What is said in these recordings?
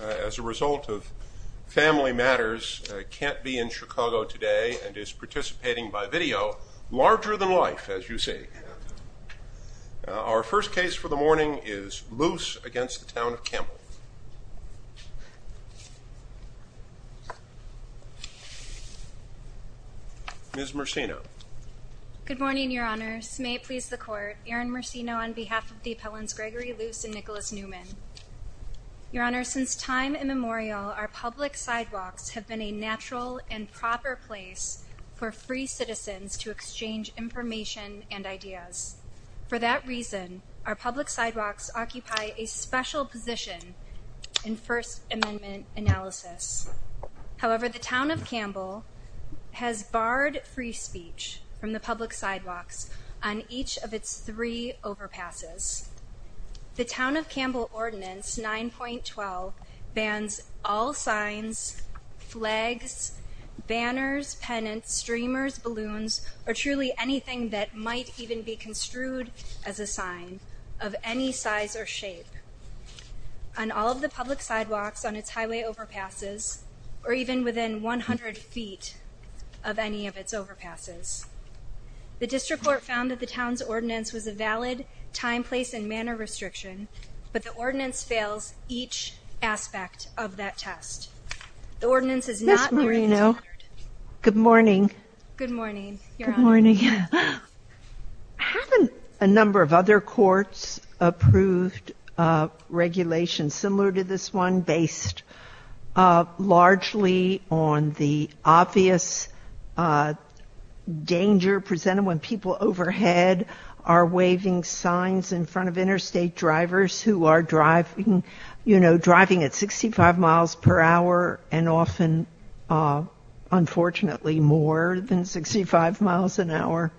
As a result of family matters, can't be in Chicago today and is participating by video, larger than life, as you see. Our first case for the morning is Luce v. Town of Campbell. Ms. Mersino. Good morning, Your Honors. May it please the Court, Aaron Mersino on behalf of the appellants Gregory Luce and Nicholas Newman. Your Honors, since time immemorial, our public sidewalks have been a natural and proper place for free citizens to exchange information and ideas. For that reason, our public sidewalks occupy a special position in First Amendment analysis. However, the Town of Campbell has barred free speech from the public sidewalks on each of its three overpasses. The Town of Campbell Ordinance 9.12 bans all signs, flags, banners, pennants, streamers, balloons, or truly anything that might even be construed as a sign of any size or shape on all of the public sidewalks on its highway overpasses or even within 100 feet of any of its overpasses. The District Court found that the Town's Ordinance was a valid time, place, and manner restriction, but the Ordinance fails each aspect of that test. Ms. Mersino, good morning. Haven't a number of other courts approved regulations similar to this one based largely on the obvious danger presented when people overhead are waving signs in front of interstate drivers who are driving at 65 miles per hour and often, unfortunately, more than 65 miles an hour?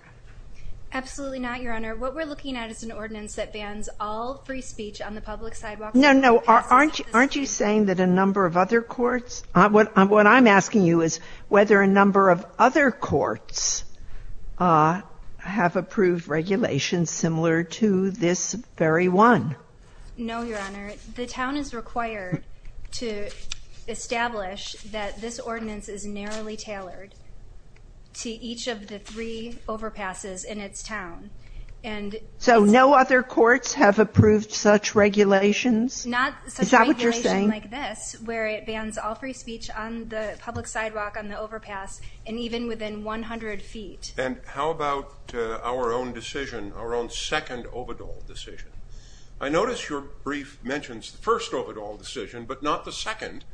Absolutely not, Your Honor. What we're looking at is an ordinance that bans all free speech on the public sidewalks. No, no. Aren't you saying that a number of other courts? What I'm asking you is whether a number of other courts have approved regulations similar to this very one. No, Your Honor. The Town is required to establish that this ordinance is narrowly tailored to each of the three overpasses in its town. So no other courts have approved such regulations? Is that what you're saying? Yes, where it bans all free speech on the public sidewalk, on the overpass, and even within 100 feet. And how about our own decision, our own second Ovidal decision? I notice your brief mentions the first Ovidal decision, but not the second,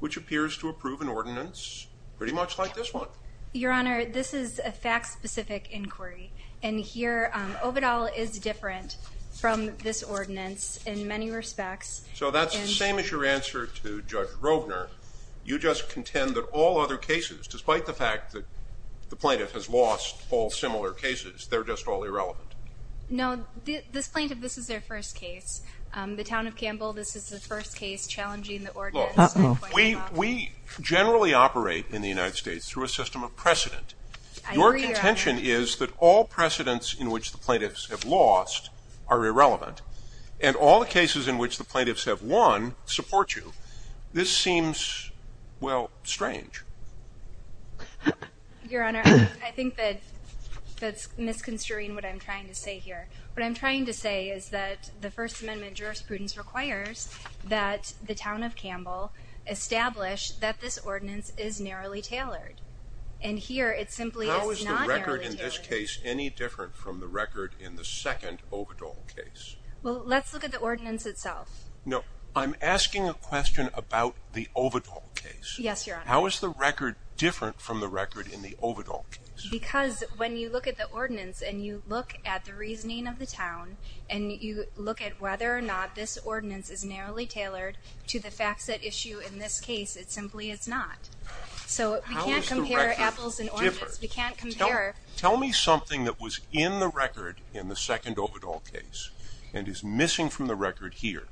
which appears to approve an ordinance pretty much like this one. Your Honor, this is a fact-specific inquiry, and here, Ovidal is different from this ordinance in many respects. So that's the same as your answer to Judge Rovner. You just contend that all other cases, despite the fact that the plaintiff has lost all similar cases, they're just all irrelevant. No, this plaintiff, this is their first case. The Town of Campbell, this is the first case challenging the ordinance. Look, we generally operate in the United States through a system of precedent. Your contention is that all precedents in which the plaintiffs have lost are irrelevant, and all the cases in which the plaintiffs have won support you. This seems, well, strange. Your Honor, I think that that's misconstruing what I'm trying to say here. What I'm trying to say is that the First Amendment jurisprudence requires that the Town of Campbell establish that this ordinance is narrowly tailored. And here, it simply is not narrowly tailored. How is the record in this case any different from the record in the second Ovidal case? Well, let's look at the ordinance itself. No, I'm asking a question about the Ovidal case. Yes, Your Honor. How is the record different from the record in the Ovidal case? Because when you look at the ordinance, and you look at the reasoning of the Town, and you look at whether or not this ordinance is narrowly tailored to the facts at issue in this case, it simply is not. So, we can't compare apples and oranges. We can't compare. Tell me something that was in the record in the second Ovidal case and is missing from the record here.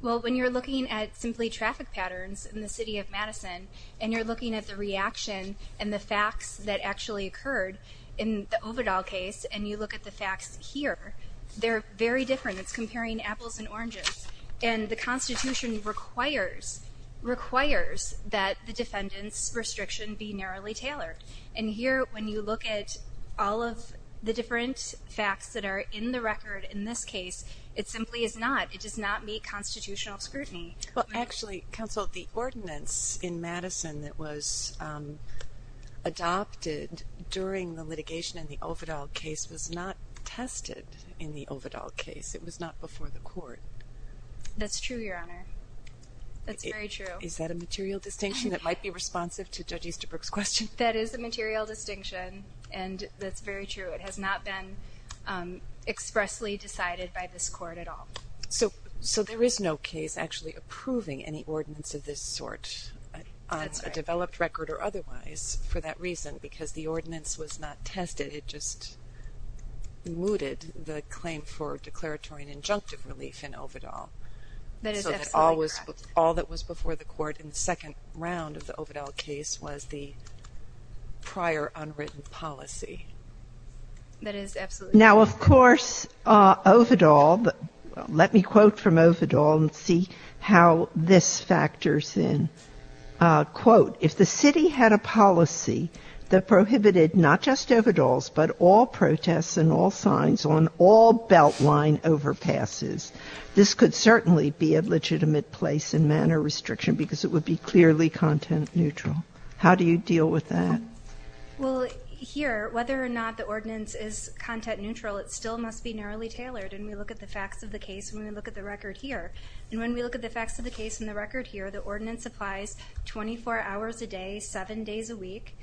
Well, when you're looking at simply traffic patterns in the City of Madison, and you're looking at the reaction and the facts that actually occurred in the Ovidal case, and you look at the facts here, they're very different. It's comparing apples and oranges. And the Constitution requires that the defendant's restriction be narrowly tailored. And here, when you look at all of the different facts that are in the record in this case, it simply is not. It does not meet constitutional scrutiny. Well, actually, Counsel, the ordinance in Madison that was adopted during the litigation in the Ovidal case was not tested in the Ovidal case. It was not before the Court. That's true, Your Honor. That's very true. Is that a material distinction that might be responsive to Judge Easterbrook's question? That is a material distinction, and that's very true. It has not been expressly decided by this Court at all. So, there is no case actually approving any ordinance of this sort on a developed record or otherwise for that reason because the ordinance was not tested. It just mooted the claim for declaratory and injunctive relief in Ovidal. That is absolutely correct. So, all that was before the Court in the second round of the Ovidal case was the prior unwritten policy. That is absolutely correct. Now, of course, Ovidal, let me quote from Ovidal and see how this factors in. Quote, if the city had a policy that prohibited not just Ovidal's, but all protests and all signs on all Beltline overpasses, this could certainly be a legitimate place in manner restriction because it would be clearly content neutral. How do you deal with that? Well, here, whether or not the ordinance is content neutral, it still must be narrowly tailored. And we look at the facts of the case when we look at the record here. And when we look at the facts of the case in the record here, the ordinance applies 24 hours a day, seven days a week.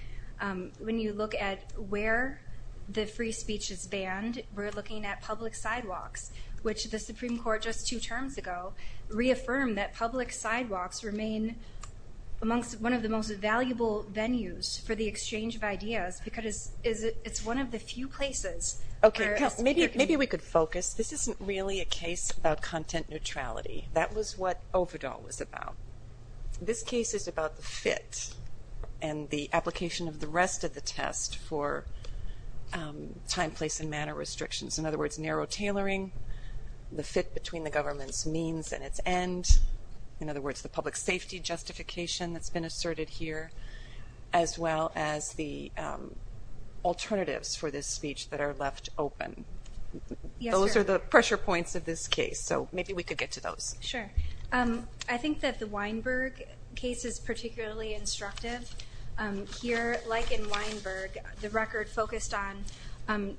When you look at where the free speech is banned, we're looking at public sidewalks, which the Supreme Court just two terms ago reaffirmed that public sidewalks remain amongst one of the most valuable venues for the exchange of ideas because it's one of the few places where it's. Okay, maybe we could focus. This isn't really a case about content neutrality. That was what Ovidal was about. This case is about the fit and the application of the rest of the test for time, place, and manner restrictions. In other words, narrow tailoring, the fit between the government's means and its end. In other words, the public safety justification that's been asserted here, as well as the alternatives for this speech that are left open. Those are the pressure points of this case. So maybe we could get to those. Sure. I think that the Weinberg case is particularly instructive. Here, like in Weinberg, the record focused on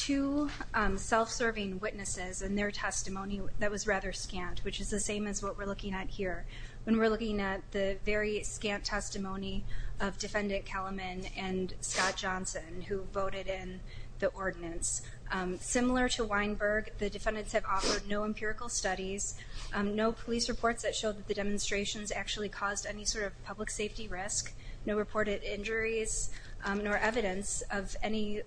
two self-serving witnesses and their testimony that was rather scant, which is the same as what we're looking at here. When we're looking at the very scant testimony of Defendant Kellerman and Scott Johnson, who voted in the ordinance. Similar to Weinberg, the defendants have offered no empirical studies, no police reports that showed that the demonstrations actually caused any sort of public safety risk, no reported injuries, nor evidence of any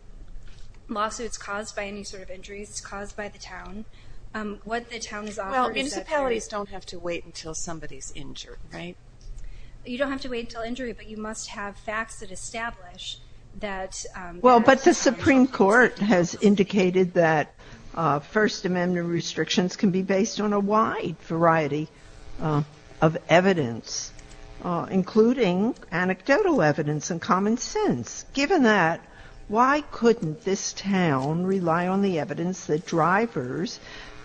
lawsuits caused by any sort of injuries caused by the town. Well, municipalities don't have to wait until somebody's injured, right? You don't have to wait until injury, but you must have facts that establish that. Well, but the Supreme Court has indicated that First Amendment restrictions can be based on a wide variety of evidence, including anecdotal evidence and common sense. Given that, why couldn't this town rely on the evidence that drivers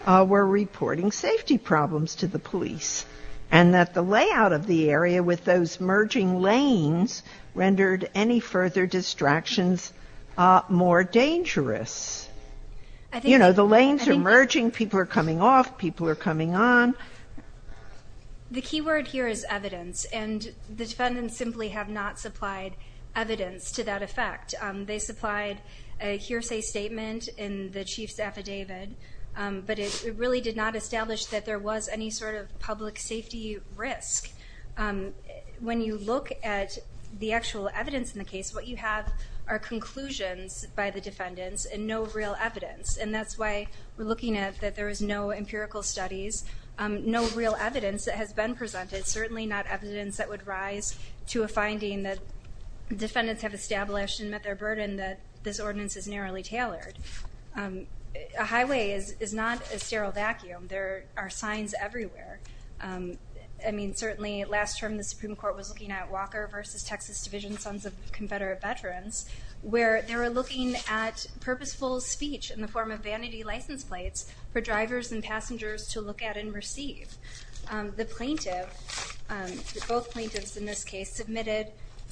were reporting safety problems to the police, and that the layout of the area with those merging lanes rendered any further distractions more dangerous? You know, the lanes are merging, people are coming off, people are coming on. The key word here is evidence, and the defendants simply have not supplied evidence to that effect. They supplied a hearsay statement in the chief's affidavit, but it really did not establish that there was any sort of public safety risk. When you look at the actual evidence in the case, what you have are conclusions by the defendants and no real evidence, and that's why we're looking at that there is no empirical studies, no real evidence that has been presented, certainly not evidence that would rise to a finding that defendants have established and met their burden that this ordinance is narrowly tailored. A highway is not a sterile vacuum. There are signs everywhere. I mean, certainly last term the Supreme Court was looking at Walker versus Texas Division Sons of Confederate Veterans, where they were looking at purposeful speech in the form of vanity license plates for drivers and passengers to look at and receive. The plaintiff, both plaintiffs in this case, submitted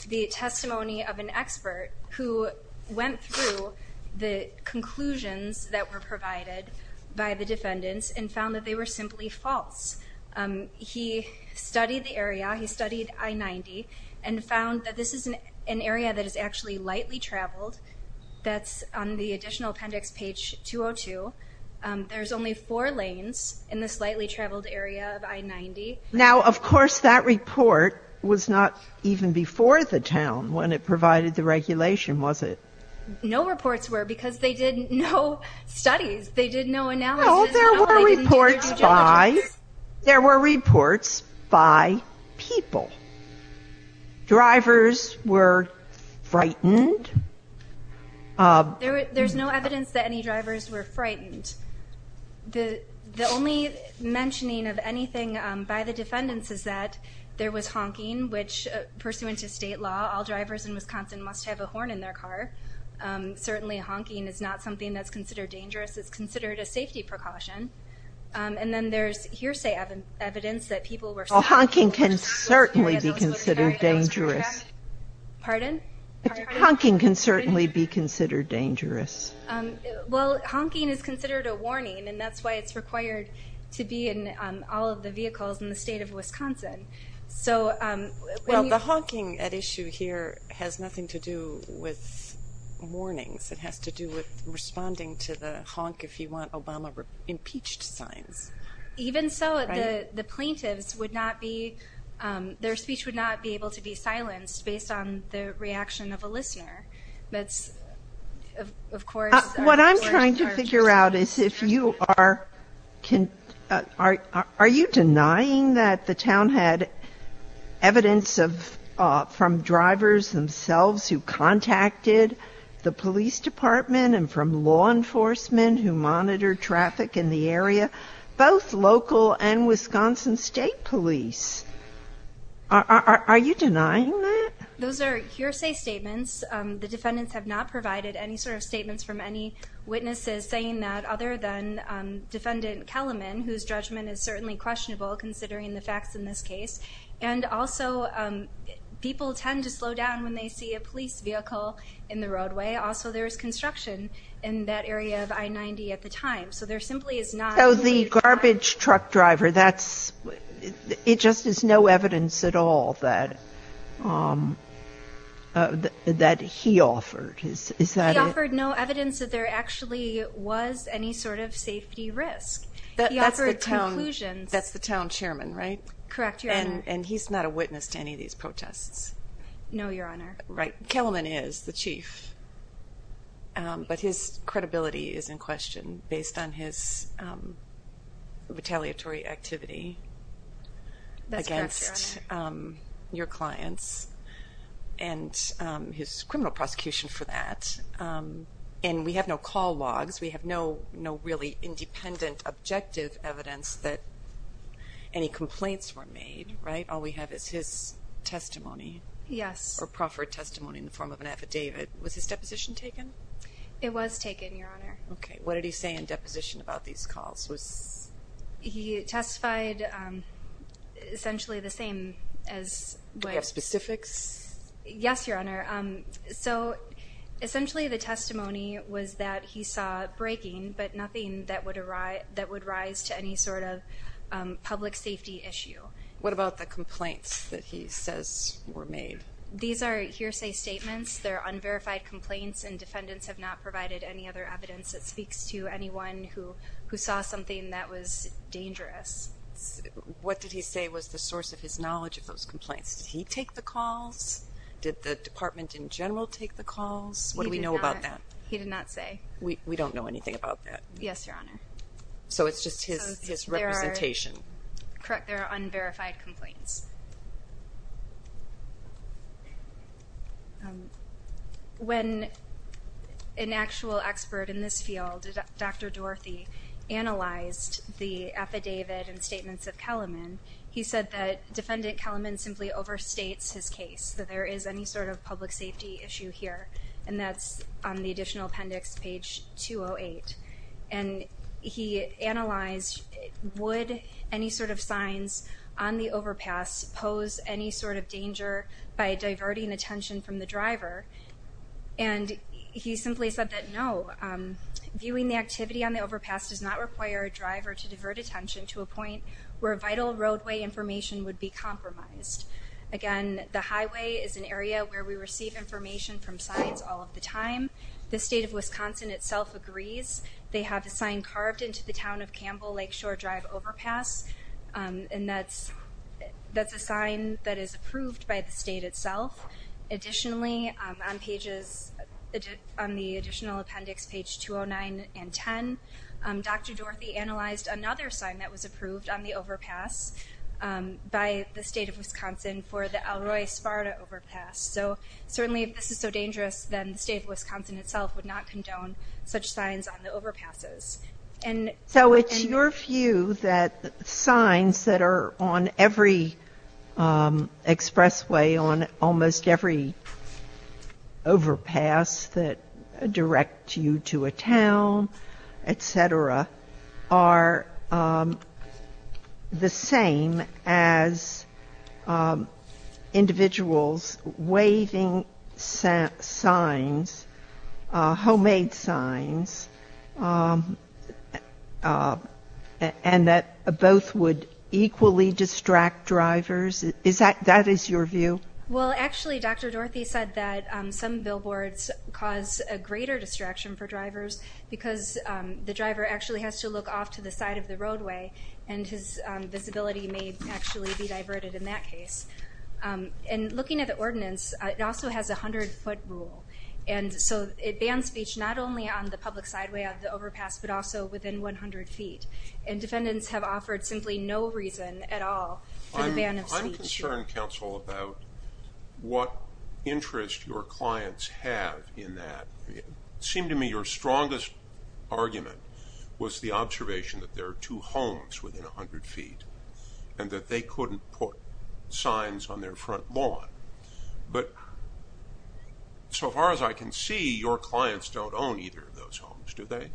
the testimony of an expert who went through the conclusions that were provided by the defendants and found that they were simply false. He studied the area. He studied I-90 and found that this is an area that is actually lightly traveled. That's on the additional appendix, page 202. There's only four lanes in this lightly traveled area of I-90. Now, of course, that report was not even before the town when it provided the regulation, was it? No reports were because they did no studies. They did no analysis. No, there were reports by people. Drivers were frightened. There's no evidence that any drivers were frightened. The only mentioning of anything by the defendants is that there was honking, which, pursuant to state law, all drivers in Wisconsin must have a horn in their car. Certainly honking is not something that's considered dangerous. It's considered a safety precaution. And then there's hearsay evidence that people were scared. Well, honking can certainly be considered dangerous. Pardon? Honking can certainly be considered dangerous. Well, honking is considered a warning, and that's why it's required to be in all of the vehicles in the state of Wisconsin. Well, the honking at issue here has nothing to do with warnings. It has to do with responding to the honk if you want Obama impeached signs. Even so, the plaintiffs would not be ‑‑ their speech would not be able to be silenced based on the reaction of a listener. That's, of course ‑‑ What I'm trying to figure out is if you are ‑‑ are you denying that the town had evidence from drivers themselves who contacted the police department and from law enforcement who monitored traffic in the area, both local and Wisconsin state police? Are you denying that? Those are hearsay statements. The defendants have not provided any sort of statements from any witnesses saying that, other than defendant Kellerman, whose judgment is certainly questionable considering the facts in this case. And also, people tend to slow down when they see a police vehicle in the roadway. Also, there was construction in that area of I‑90 at the time. So there simply is not ‑‑ So the garbage truck driver, that's ‑‑ it just is no evidence at all that he offered. He offered no evidence that there actually was any sort of safety risk. He offered conclusions. That's the town chairman, right? Correct, Your Honor. And he's not a witness to any of these protests. No, Your Honor. Right. Kellerman is the chief. But his credibility is in question based on his retaliatory activity against your clients and his criminal prosecution for that. And we have no call logs. We have no really independent, objective evidence that any complaints were made, right? All we have is his testimony. Yes. Or proffered testimony in the form of an affidavit. Was his deposition taken? It was taken, Your Honor. Okay. What did he say in deposition about these calls? Was ‑‑ He testified essentially the same as ‑‑ Do you have specifics? Yes, Your Honor. So essentially the testimony was that he saw braking, but nothing that would arise to any sort of public safety issue. What about the complaints that he says were made? These are hearsay statements. They're unverified complaints and defendants have not provided any other evidence that speaks to anyone who saw something that was dangerous. What did he say was the source of his knowledge of those complaints? Did he take the calls? Did the department in general take the calls? What do we know about that? He did not say. We don't know anything about that. Yes, Your Honor. So it's just his representation. Correct. They're unverified complaints. When an actual expert in this field, Dr. Dorothy, analyzed the affidavit and statements of Kellerman, he said that Defendant Kellerman simply overstates his case, that there is any sort of public safety issue here, and that's on the additional appendix, page 208. And he analyzed, would any sort of signs on the overpass pose any sort of danger by diverting attention from the driver? And he simply said that, no, viewing the activity on the overpass does not require a driver to divert attention to a point where vital roadway information would be compromised. Again, the highway is an area where we receive information from signs all of the time. The state of Wisconsin itself agrees. They have a sign carved into the town of Campbell Lakeshore Drive overpass, and that's a sign that is approved by the state itself. Additionally, on the additional appendix, page 209 and 10, Dr. Dorothy analyzed another sign that was approved on the overpass by the state of Wisconsin for the Elroy-Sparta overpass. So certainly if this is so dangerous, then the state of Wisconsin itself would not condone such signs on the overpasses. So it's your view that signs that are on every expressway, on almost every overpass that direct you to a town, et cetera, are the same as individuals waving signs, homemade signs, and that both would equally distract drivers? That is your view? Well, actually, Dr. Dorothy said that some billboards cause a greater distraction for drivers because the driver actually has to look off to the side of the roadway, and his visibility may actually be diverted in that case. And looking at the ordinance, it also has a 100-foot rule, and so it bans speech not only on the public sideway of the overpass but also within 100 feet, and defendants have offered simply no reason at all for the ban of speech. I'm concerned, counsel, about what interest your clients have in that. It seemed to me your strongest argument was the observation that there are two homes within 100 feet and that they couldn't put signs on their front lawn. But so far as I can see, your clients don't own either of those homes, do they?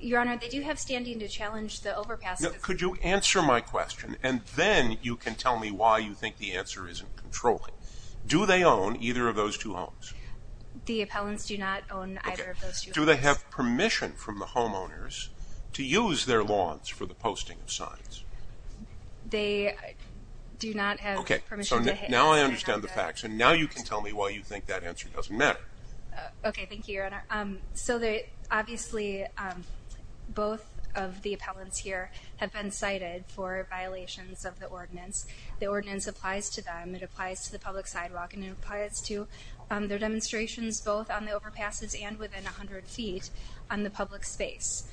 Your Honor, they do have standing to challenge the overpass. Could you answer my question, and then you can tell me why you think the answer isn't controlling. Do they own either of those two homes? The appellants do not own either of those two homes. Do they have permission from the homeowners to use their lawns for the posting of signs? They do not have permission. Okay, so now I understand the facts, and now you can tell me why you think that answer doesn't matter. Okay, thank you, Your Honor. So obviously both of the appellants here have been cited for violations of the ordinance. The ordinance applies to them, it applies to the public sidewalk, and it applies to their demonstrations both on the overpasses and within 100 feet on the public space.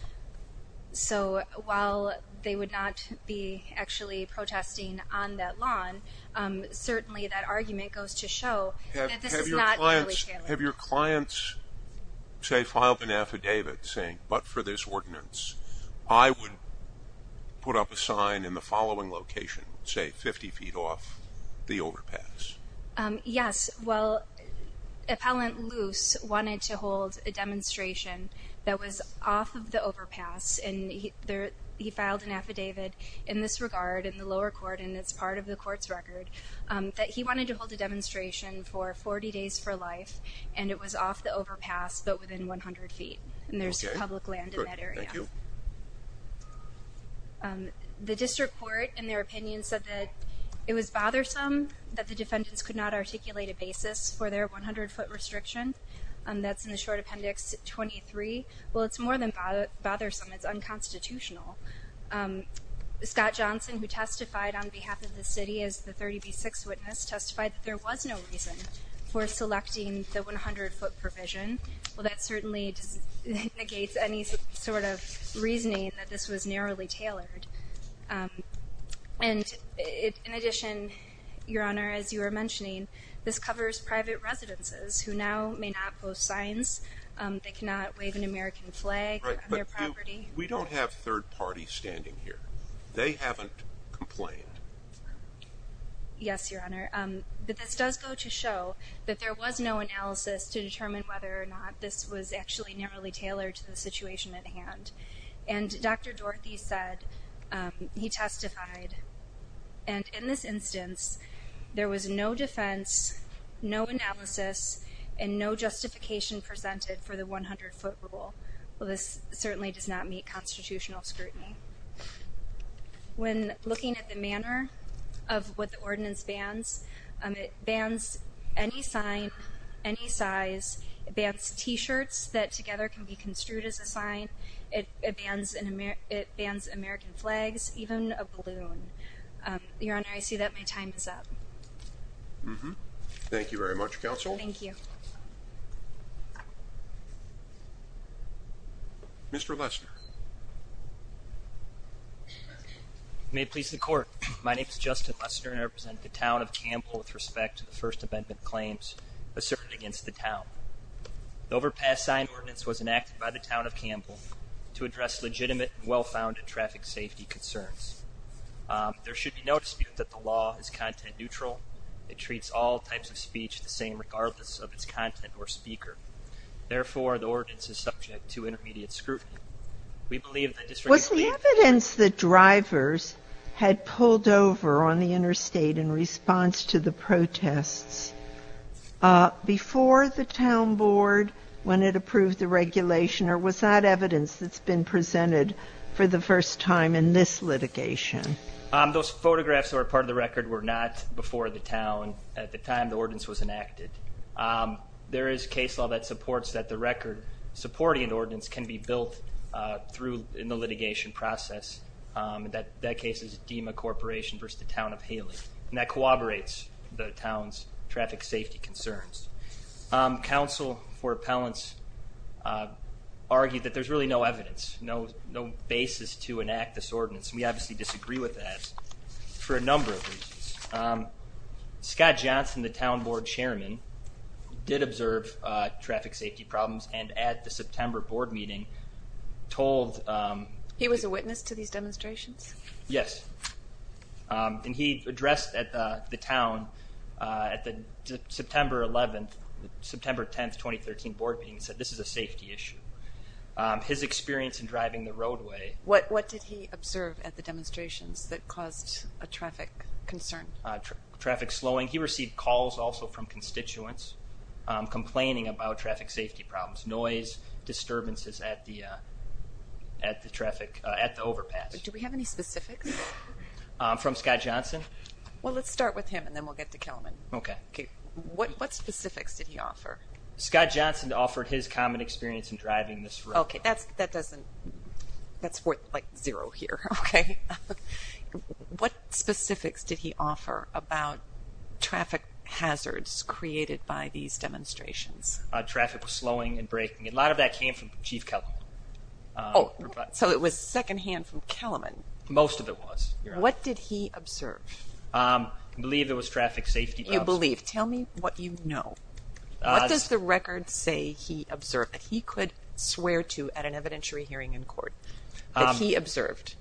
So while they would not be actually protesting on that lawn, certainly that argument goes to show that this is not legally tailored. Have your clients, say, filed an affidavit saying, but for this ordinance, I would put up a sign in the following location, say 50 feet off the overpass? Yes. Well, Appellant Luce wanted to hold a demonstration that was off of the overpass, and he filed an affidavit in this regard in the lower court, and it's part of the court's record, that he wanted to hold a demonstration for 40 days for life, and it was off the overpass but within 100 feet, and there's public land in that area. Okay, good, thank you. The district court, in their opinion, said that it was bothersome that the defendants could not articulate a basis for their 100-foot restriction. That's in the short appendix 23. Well, it's more than bothersome, it's unconstitutional. Scott Johnson, who testified on behalf of the city as the 30B6 witness, testified that there was no reason for selecting the 100-foot provision. Well, that certainly negates any sort of reasoning that this was narrowly tailored. And in addition, Your Honor, as you were mentioning, this covers private residences who now may not post signs, they cannot wave an American flag on their property. Right, but we don't have third parties standing here. They haven't complained. Yes, Your Honor. But this does go to show that there was no analysis to determine whether or not this was actually narrowly tailored to the situation at hand. And Dr. Dorothy said, he testified, and in this instance, there was no defense, no analysis, and no justification presented for the 100-foot rule. Well, this certainly does not meet constitutional scrutiny. When looking at the manner of what the ordinance bans, it bans any sign, any size. It bans T-shirts that together can be construed as a sign. It bans American flags, even a balloon. Your Honor, I see that my time is up. Thank you very much, Counsel. Thank you. Mr. Lesner. May it please the Court, my name is Justin Lesner, and I represent the Town of Campbell with respect to the First Amendment claims asserted against the Town. The Overpass Sign Ordinance was enacted by the Town of Campbell to address legitimate and well-founded traffic safety concerns. There should be no dispute that the law is content neutral. It treats all types of speech the same, regardless of its content or speaker. Therefore, the ordinance is subject to intermediate scrutiny. We believe that the District of Cleveland- Was the evidence that drivers had pulled over on the interstate in response to the protests before the Town Board when it approved the regulation, or was that evidence that's been presented for the first time in this litigation? Those photographs that are part of the record were not before the Town at the time the ordinance was enacted. There is case law that supports that the record supporting the ordinance can be built through in the litigation process. That case is DEMA Corporation versus the Town of Haley. That corroborates the Town's traffic safety concerns. Counsel for appellants argued that there's really no evidence, no basis to enact this ordinance. We obviously disagree with that for a number of reasons. Scott Johnson, the Town Board Chairman, did observe traffic safety problems and at the September board meeting told- He was a witness to these demonstrations? Yes. And he addressed the Town at the September 10, 2013 board meeting and said this is a safety issue. His experience in driving the roadway- What did he observe at the demonstrations that caused a traffic concern? Traffic slowing. He received calls also from constituents complaining about traffic safety problems, noise, disturbances at the overpass. Do we have any specifics? From Scott Johnson? Well, let's start with him and then we'll get to Kellman. Okay. What specifics did he offer? Scott Johnson offered his common experience in driving this roadway. Okay. That's worth, like, zero here, okay? What specifics did he offer about traffic hazards created by these demonstrations? Traffic slowing and braking. A lot of that came from Chief Kellman. Oh, so it was secondhand from Kellman? Most of it was. What did he observe? I believe there was traffic safety problems. You believe. Tell me what you know. What does the record say he observed that he could swear to at an evidentiary hearing in court that he observed?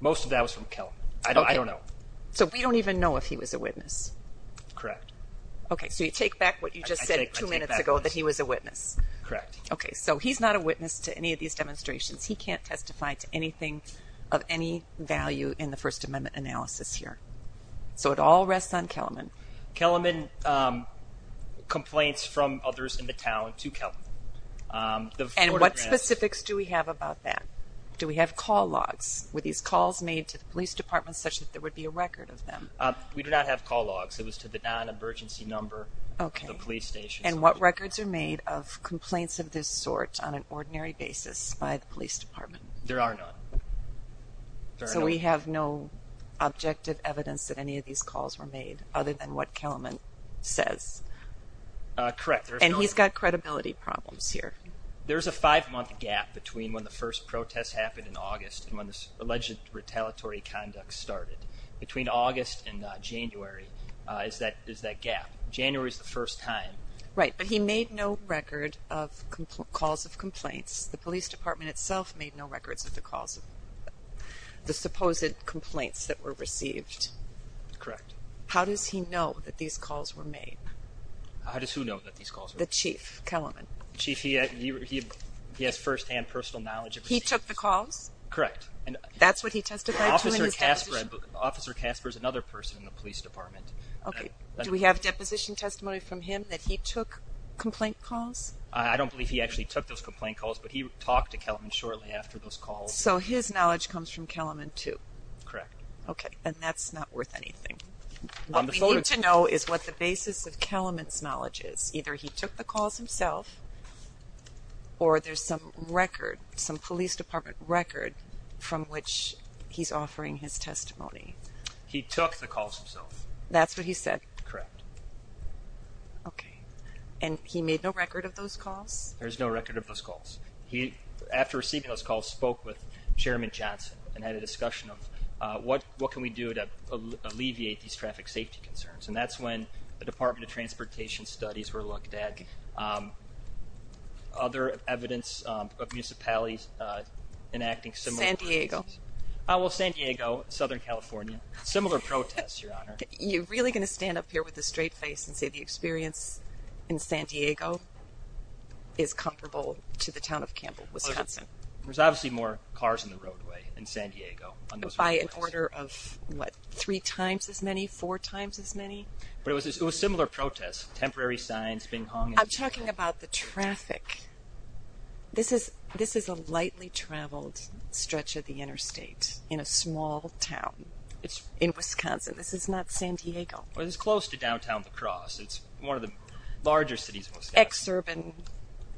Most of that was from Kellman. I don't know. So we don't even know if he was a witness? Correct. Okay. So you take back what you just said two minutes ago that he was a witness? Correct. Okay, so he's not a witness to any of these demonstrations. He can't testify to anything of any value in the First Amendment analysis here. So it all rests on Kellman. Kellman complains from others in the town to Kellman. And what specifics do we have about that? Do we have call logs? Were these calls made to the police department such that there would be a record of them? We do not have call logs. It was to the non-emergency number of the police station. And what records are made of complaints of this sort on an ordinary basis by the police department? There are none. So we have no objective evidence that any of these calls were made other than what Kellman says? Correct. And he's got credibility problems here. There's a five-month gap between when the first protests happened in August and when this alleged retaliatory conduct started. Between August and January is that gap. January is the first time. Right. But he made no record of calls of complaints. The police department itself made no records of the calls of the supposed complaints that were received. Correct. How does he know that these calls were made? How does who know that these calls were made? The chief, Kellman. Chief, he has firsthand personal knowledge of receipts. He took the calls? Correct. That's what he testified to in his deposition? Officer Casper is another person in the police department. Okay. Do we have deposition testimony from him that he took complaint calls? I don't believe he actually took those complaint calls, but he talked to Kellman shortly after those calls. So his knowledge comes from Kellman, too? Correct. Okay. And that's not worth anything. What we need to know is what the basis of Kellman's knowledge is. Either he took the calls himself, or there's some record, some police department record, from which he's offering his testimony. He took the calls himself. That's what he said? Correct. Okay. And he made no record of those calls? There's no record of those calls. He, after receiving those calls, spoke with Chairman Johnson and had a discussion of, what can we do to alleviate these traffic safety concerns? And that's when the Department of Transportation studies were looked at. Okay. Other evidence of municipalities enacting similar practices. San Diego. Well, San Diego, Southern California, similar protests, Your Honor. You're really going to stand up here with a straight face and say the experience in San Diego is comparable to the town of Campbell, Wisconsin? There's obviously more cars on the roadway in San Diego. By an order of, what, three times as many, four times as many? But it was similar protests, temporary signs being hung. I'm talking about the traffic. This is a lightly traveled stretch of the interstate in a small town in Wisconsin. This is not San Diego. Well, it's close to downtown La Crosse. It's one of the larger cities in Wisconsin. Ex-urban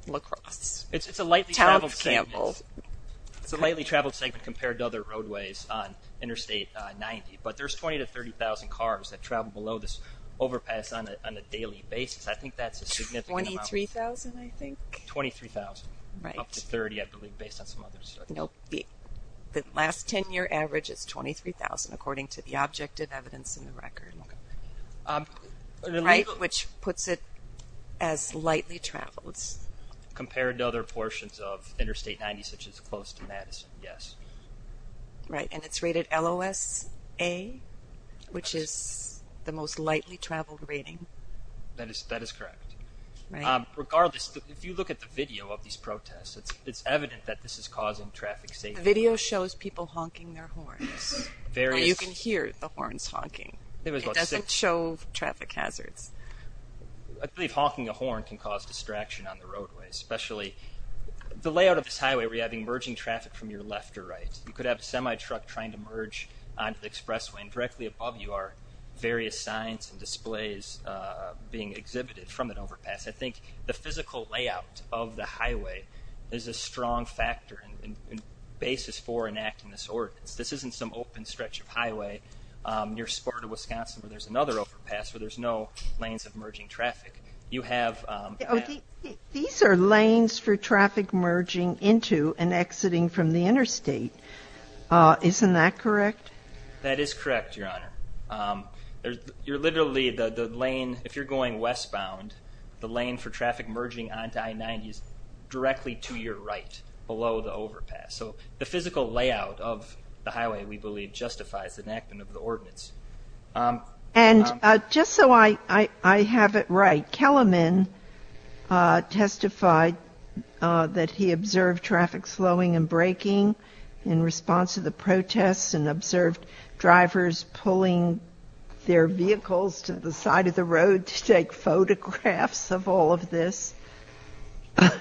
La Crosse. It's a lightly traveled segment. Town of Campbell. It's a lightly traveled segment compared to other roadways on Interstate 90. But there's 20,000 to 30,000 cars that travel below this overpass on a daily basis. I think that's a significant amount. 23,000, I think. 23,000. Right. Up to 30, I believe, based on some other studies. Nope. The last 10-year average is 23,000, according to the objective evidence in the record. Right, which puts it as lightly traveled. Compared to other portions of Interstate 90, such as close to Madison, yes. Right, and it's rated LOS-A, which is the most lightly traveled rating. That is correct. Regardless, if you look at the video of these protests, it's evident that this is causing traffic safety. The video shows people honking their horns. You can hear the horns honking. It doesn't show traffic hazards. I believe honking a horn can cause distraction on the roadway, especially the layout of this highway where you have emerging traffic from your left or right. You could have a semi-truck trying to merge onto the expressway, and directly above you are various signs and displays being exhibited from an overpass. I think the physical layout of the highway is a strong factor and basis for enacting this ordinance. This isn't some open stretch of highway near Sparta, Wisconsin, where there's another overpass where there's no lanes of emerging traffic. These are lanes for traffic merging into and exiting from the interstate. Isn't that correct? That is correct, Your Honor. You're literally the lane, if you're going westbound, the lane for traffic merging onto I-90 is directly to your right, below the overpass. So the physical layout of the highway, we believe, justifies the enactment of the ordinance. And just so I have it right, Kellerman testified that he observed traffic slowing and braking in response to the protests and observed drivers pulling their vehicles to the side of the road to take photographs of all of this.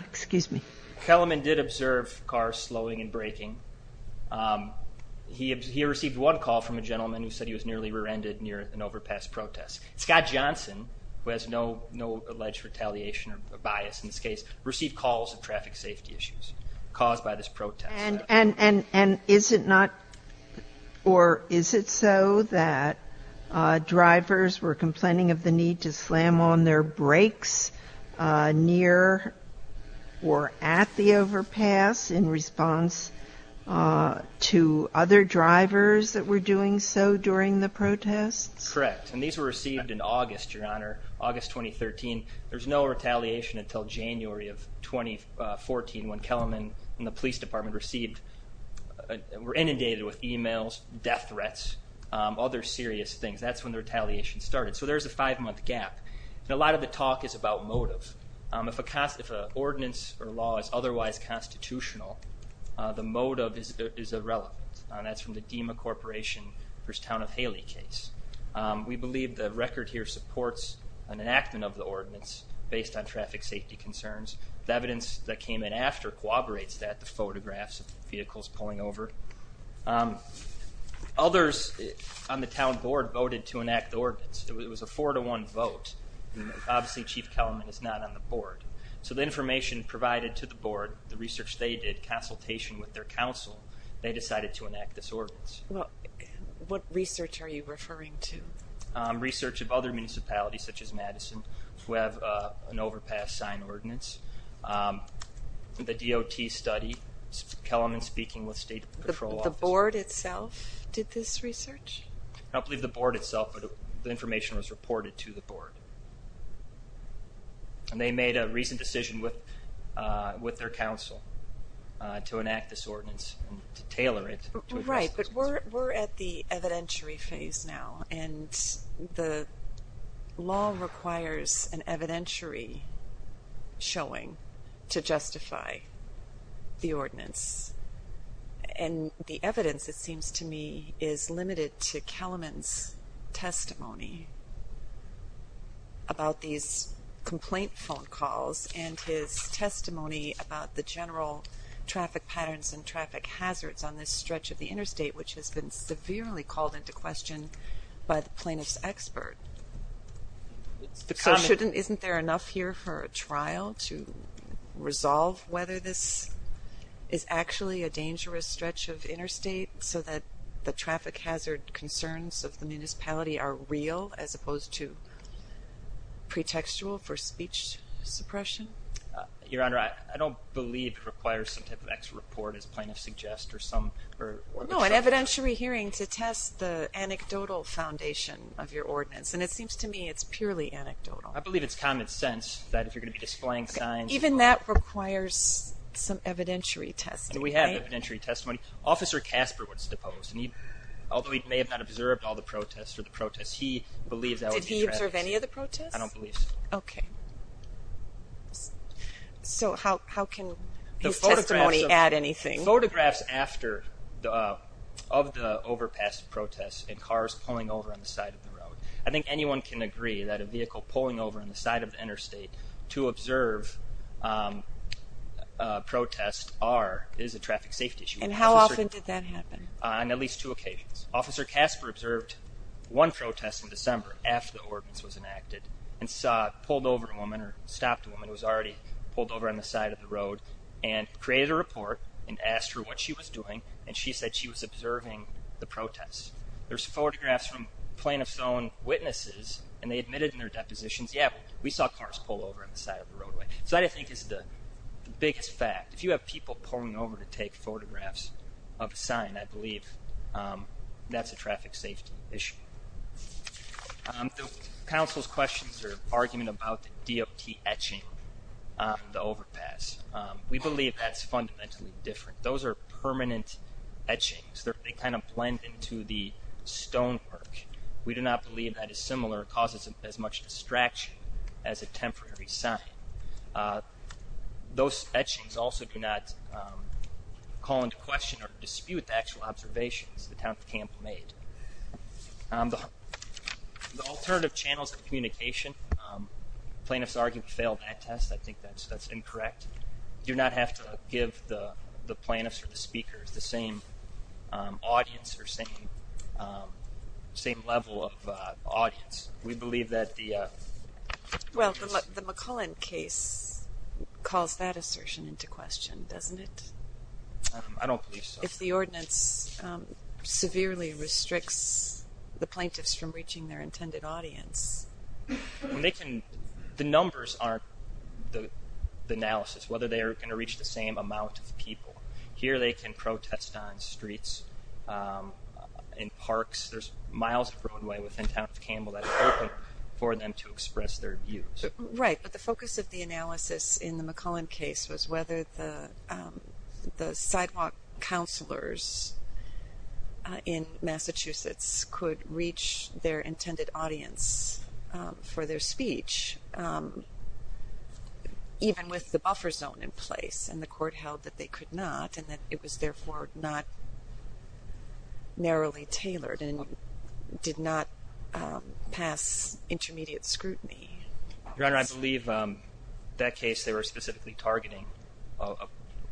Excuse me. Kellerman did observe cars slowing and braking. He received one call from a gentleman who said he was nearly rear-ended near an overpass protest. Scott Johnson, who has no alleged retaliation or bias in this case, received calls of traffic safety issues caused by this protest. And is it so that drivers were complaining of the need to slam on their brakes near or at the overpass in response to other drivers that were doing so during the protests? Correct. And these were received in August, Your Honor, August 2013. There was no retaliation until January of 2014, when Kellerman and the police department were inundated with e-mails, death threats, other serious things. That's when the retaliation started. So there's a five-month gap. And a lot of the talk is about motive. If an ordinance or law is otherwise constitutional, the motive is irrelevant. That's from the DEMA Corporation v. Town of Haley case. We believe the record here supports an enactment of the ordinance based on traffic safety concerns. The evidence that came in after corroborates that, the photographs of vehicles pulling over. Others on the town board voted to enact the ordinance. It was a four-to-one vote. Obviously, Chief Kellerman is not on the board. So the information provided to the board, the research they did, consultation with their council, they decided to enact this ordinance. Well, what research are you referring to? Research of other municipalities, such as Madison, who have an overpass sign ordinance. The DOT study, Kellerman speaking with state patrol officers. The board itself did this research? I don't believe the board itself, but the information was reported to the board. And they made a recent decision with their council to enact this ordinance and to tailor it. Right, but we're at the evidentiary phase now. And the law requires an evidentiary showing to justify the ordinance. And the evidence, it seems to me, is limited to Kellerman's testimony about these complaint phone calls and his testimony about the general traffic patterns and traffic hazards on this stretch of the interstate, which has been severely called into question by the plaintiff's expert. So isn't there enough here for a trial to resolve whether this is actually a dangerous stretch of interstate so that the traffic hazard concerns of the municipality are real as opposed to pretextual for speech suppression? Your Honor, I don't believe it requires some type of extra report, as plaintiffs suggest. No, an evidentiary hearing to test the anecdotal foundation of your ordinance. And it seems to me it's purely anecdotal. I believe it's common sense that if you're going to be displaying signs. Even that requires some evidentiary testing. We have evidentiary testimony. When Officer Casper was deposed, although he may have not observed all the protests or the protests, he believed that would be traffic safety. Did he observe any of the protests? I don't believe so. Okay. So how can his testimony add anything? Photographs of the overpass protests and cars pulling over on the side of the road. I think anyone can agree that a vehicle pulling over on the side of the interstate to observe protests is a traffic safety issue. And how often did that happen? On at least two occasions. Officer Casper observed one protest in December after the ordinance was enacted and pulled over a woman or stopped a woman who was already pulled over on the side of the road and created a report and asked her what she was doing, and she said she was observing the protests. There's photographs from plaintiff's own witnesses, and they admitted in their depositions, yeah, we saw cars pull over on the side of the roadway. So that, I think, is the biggest fact. If you have people pulling over to take photographs of a sign, I believe that's a traffic safety issue. The council's questions are an argument about the DOT etching the overpass. We believe that's fundamentally different. Those are permanent etchings. They kind of blend into the stonework. We do not believe that is similar. It causes as much distraction as a temporary sign. Those etchings also do not call into question or dispute the actual observations the town of Tampa made. The alternative channels of communication, plaintiff's argument failed that test. I think that's incorrect. Do not have to give the plaintiffs or the speakers the same audience or same level of audience. Well, the McCullen case calls that assertion into question, doesn't it? I don't believe so. If the ordinance severely restricts the plaintiffs from reaching their intended audience. The numbers aren't the analysis, whether they are going to reach the same amount of people. There's miles of roadway within town of Campbell that is open for them to express their views. Right, but the focus of the analysis in the McCullen case was whether the sidewalk counselors in Massachusetts could reach their intended audience for their speech, even with the buffer zone in place. And the court held that they could not and that it was therefore not narrowly tailored and did not pass intermediate scrutiny. Your Honor, I believe that case they were specifically targeting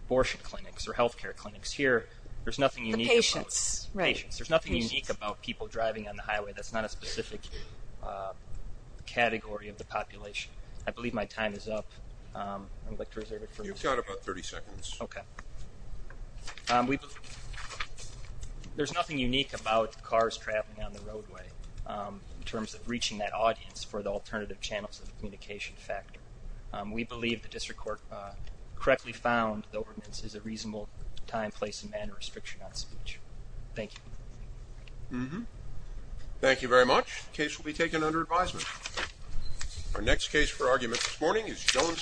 abortion clinics or health care clinics. Here, there's nothing unique. The patients, right. There's nothing unique about people driving on the highway. That's not a specific category of the population. I believe my time is up. You've got about 30 seconds. Okay. There's nothing unique about cars traveling on the roadway in terms of reaching that audience for the alternative channels of communication factor. We believe the district court correctly found the ordinance is a reasonable time, place, and manner restriction on speech. Thank you. Thank you very much. The case will be taken under advisement. Our next case for argument this morning is Jones v. Callaway.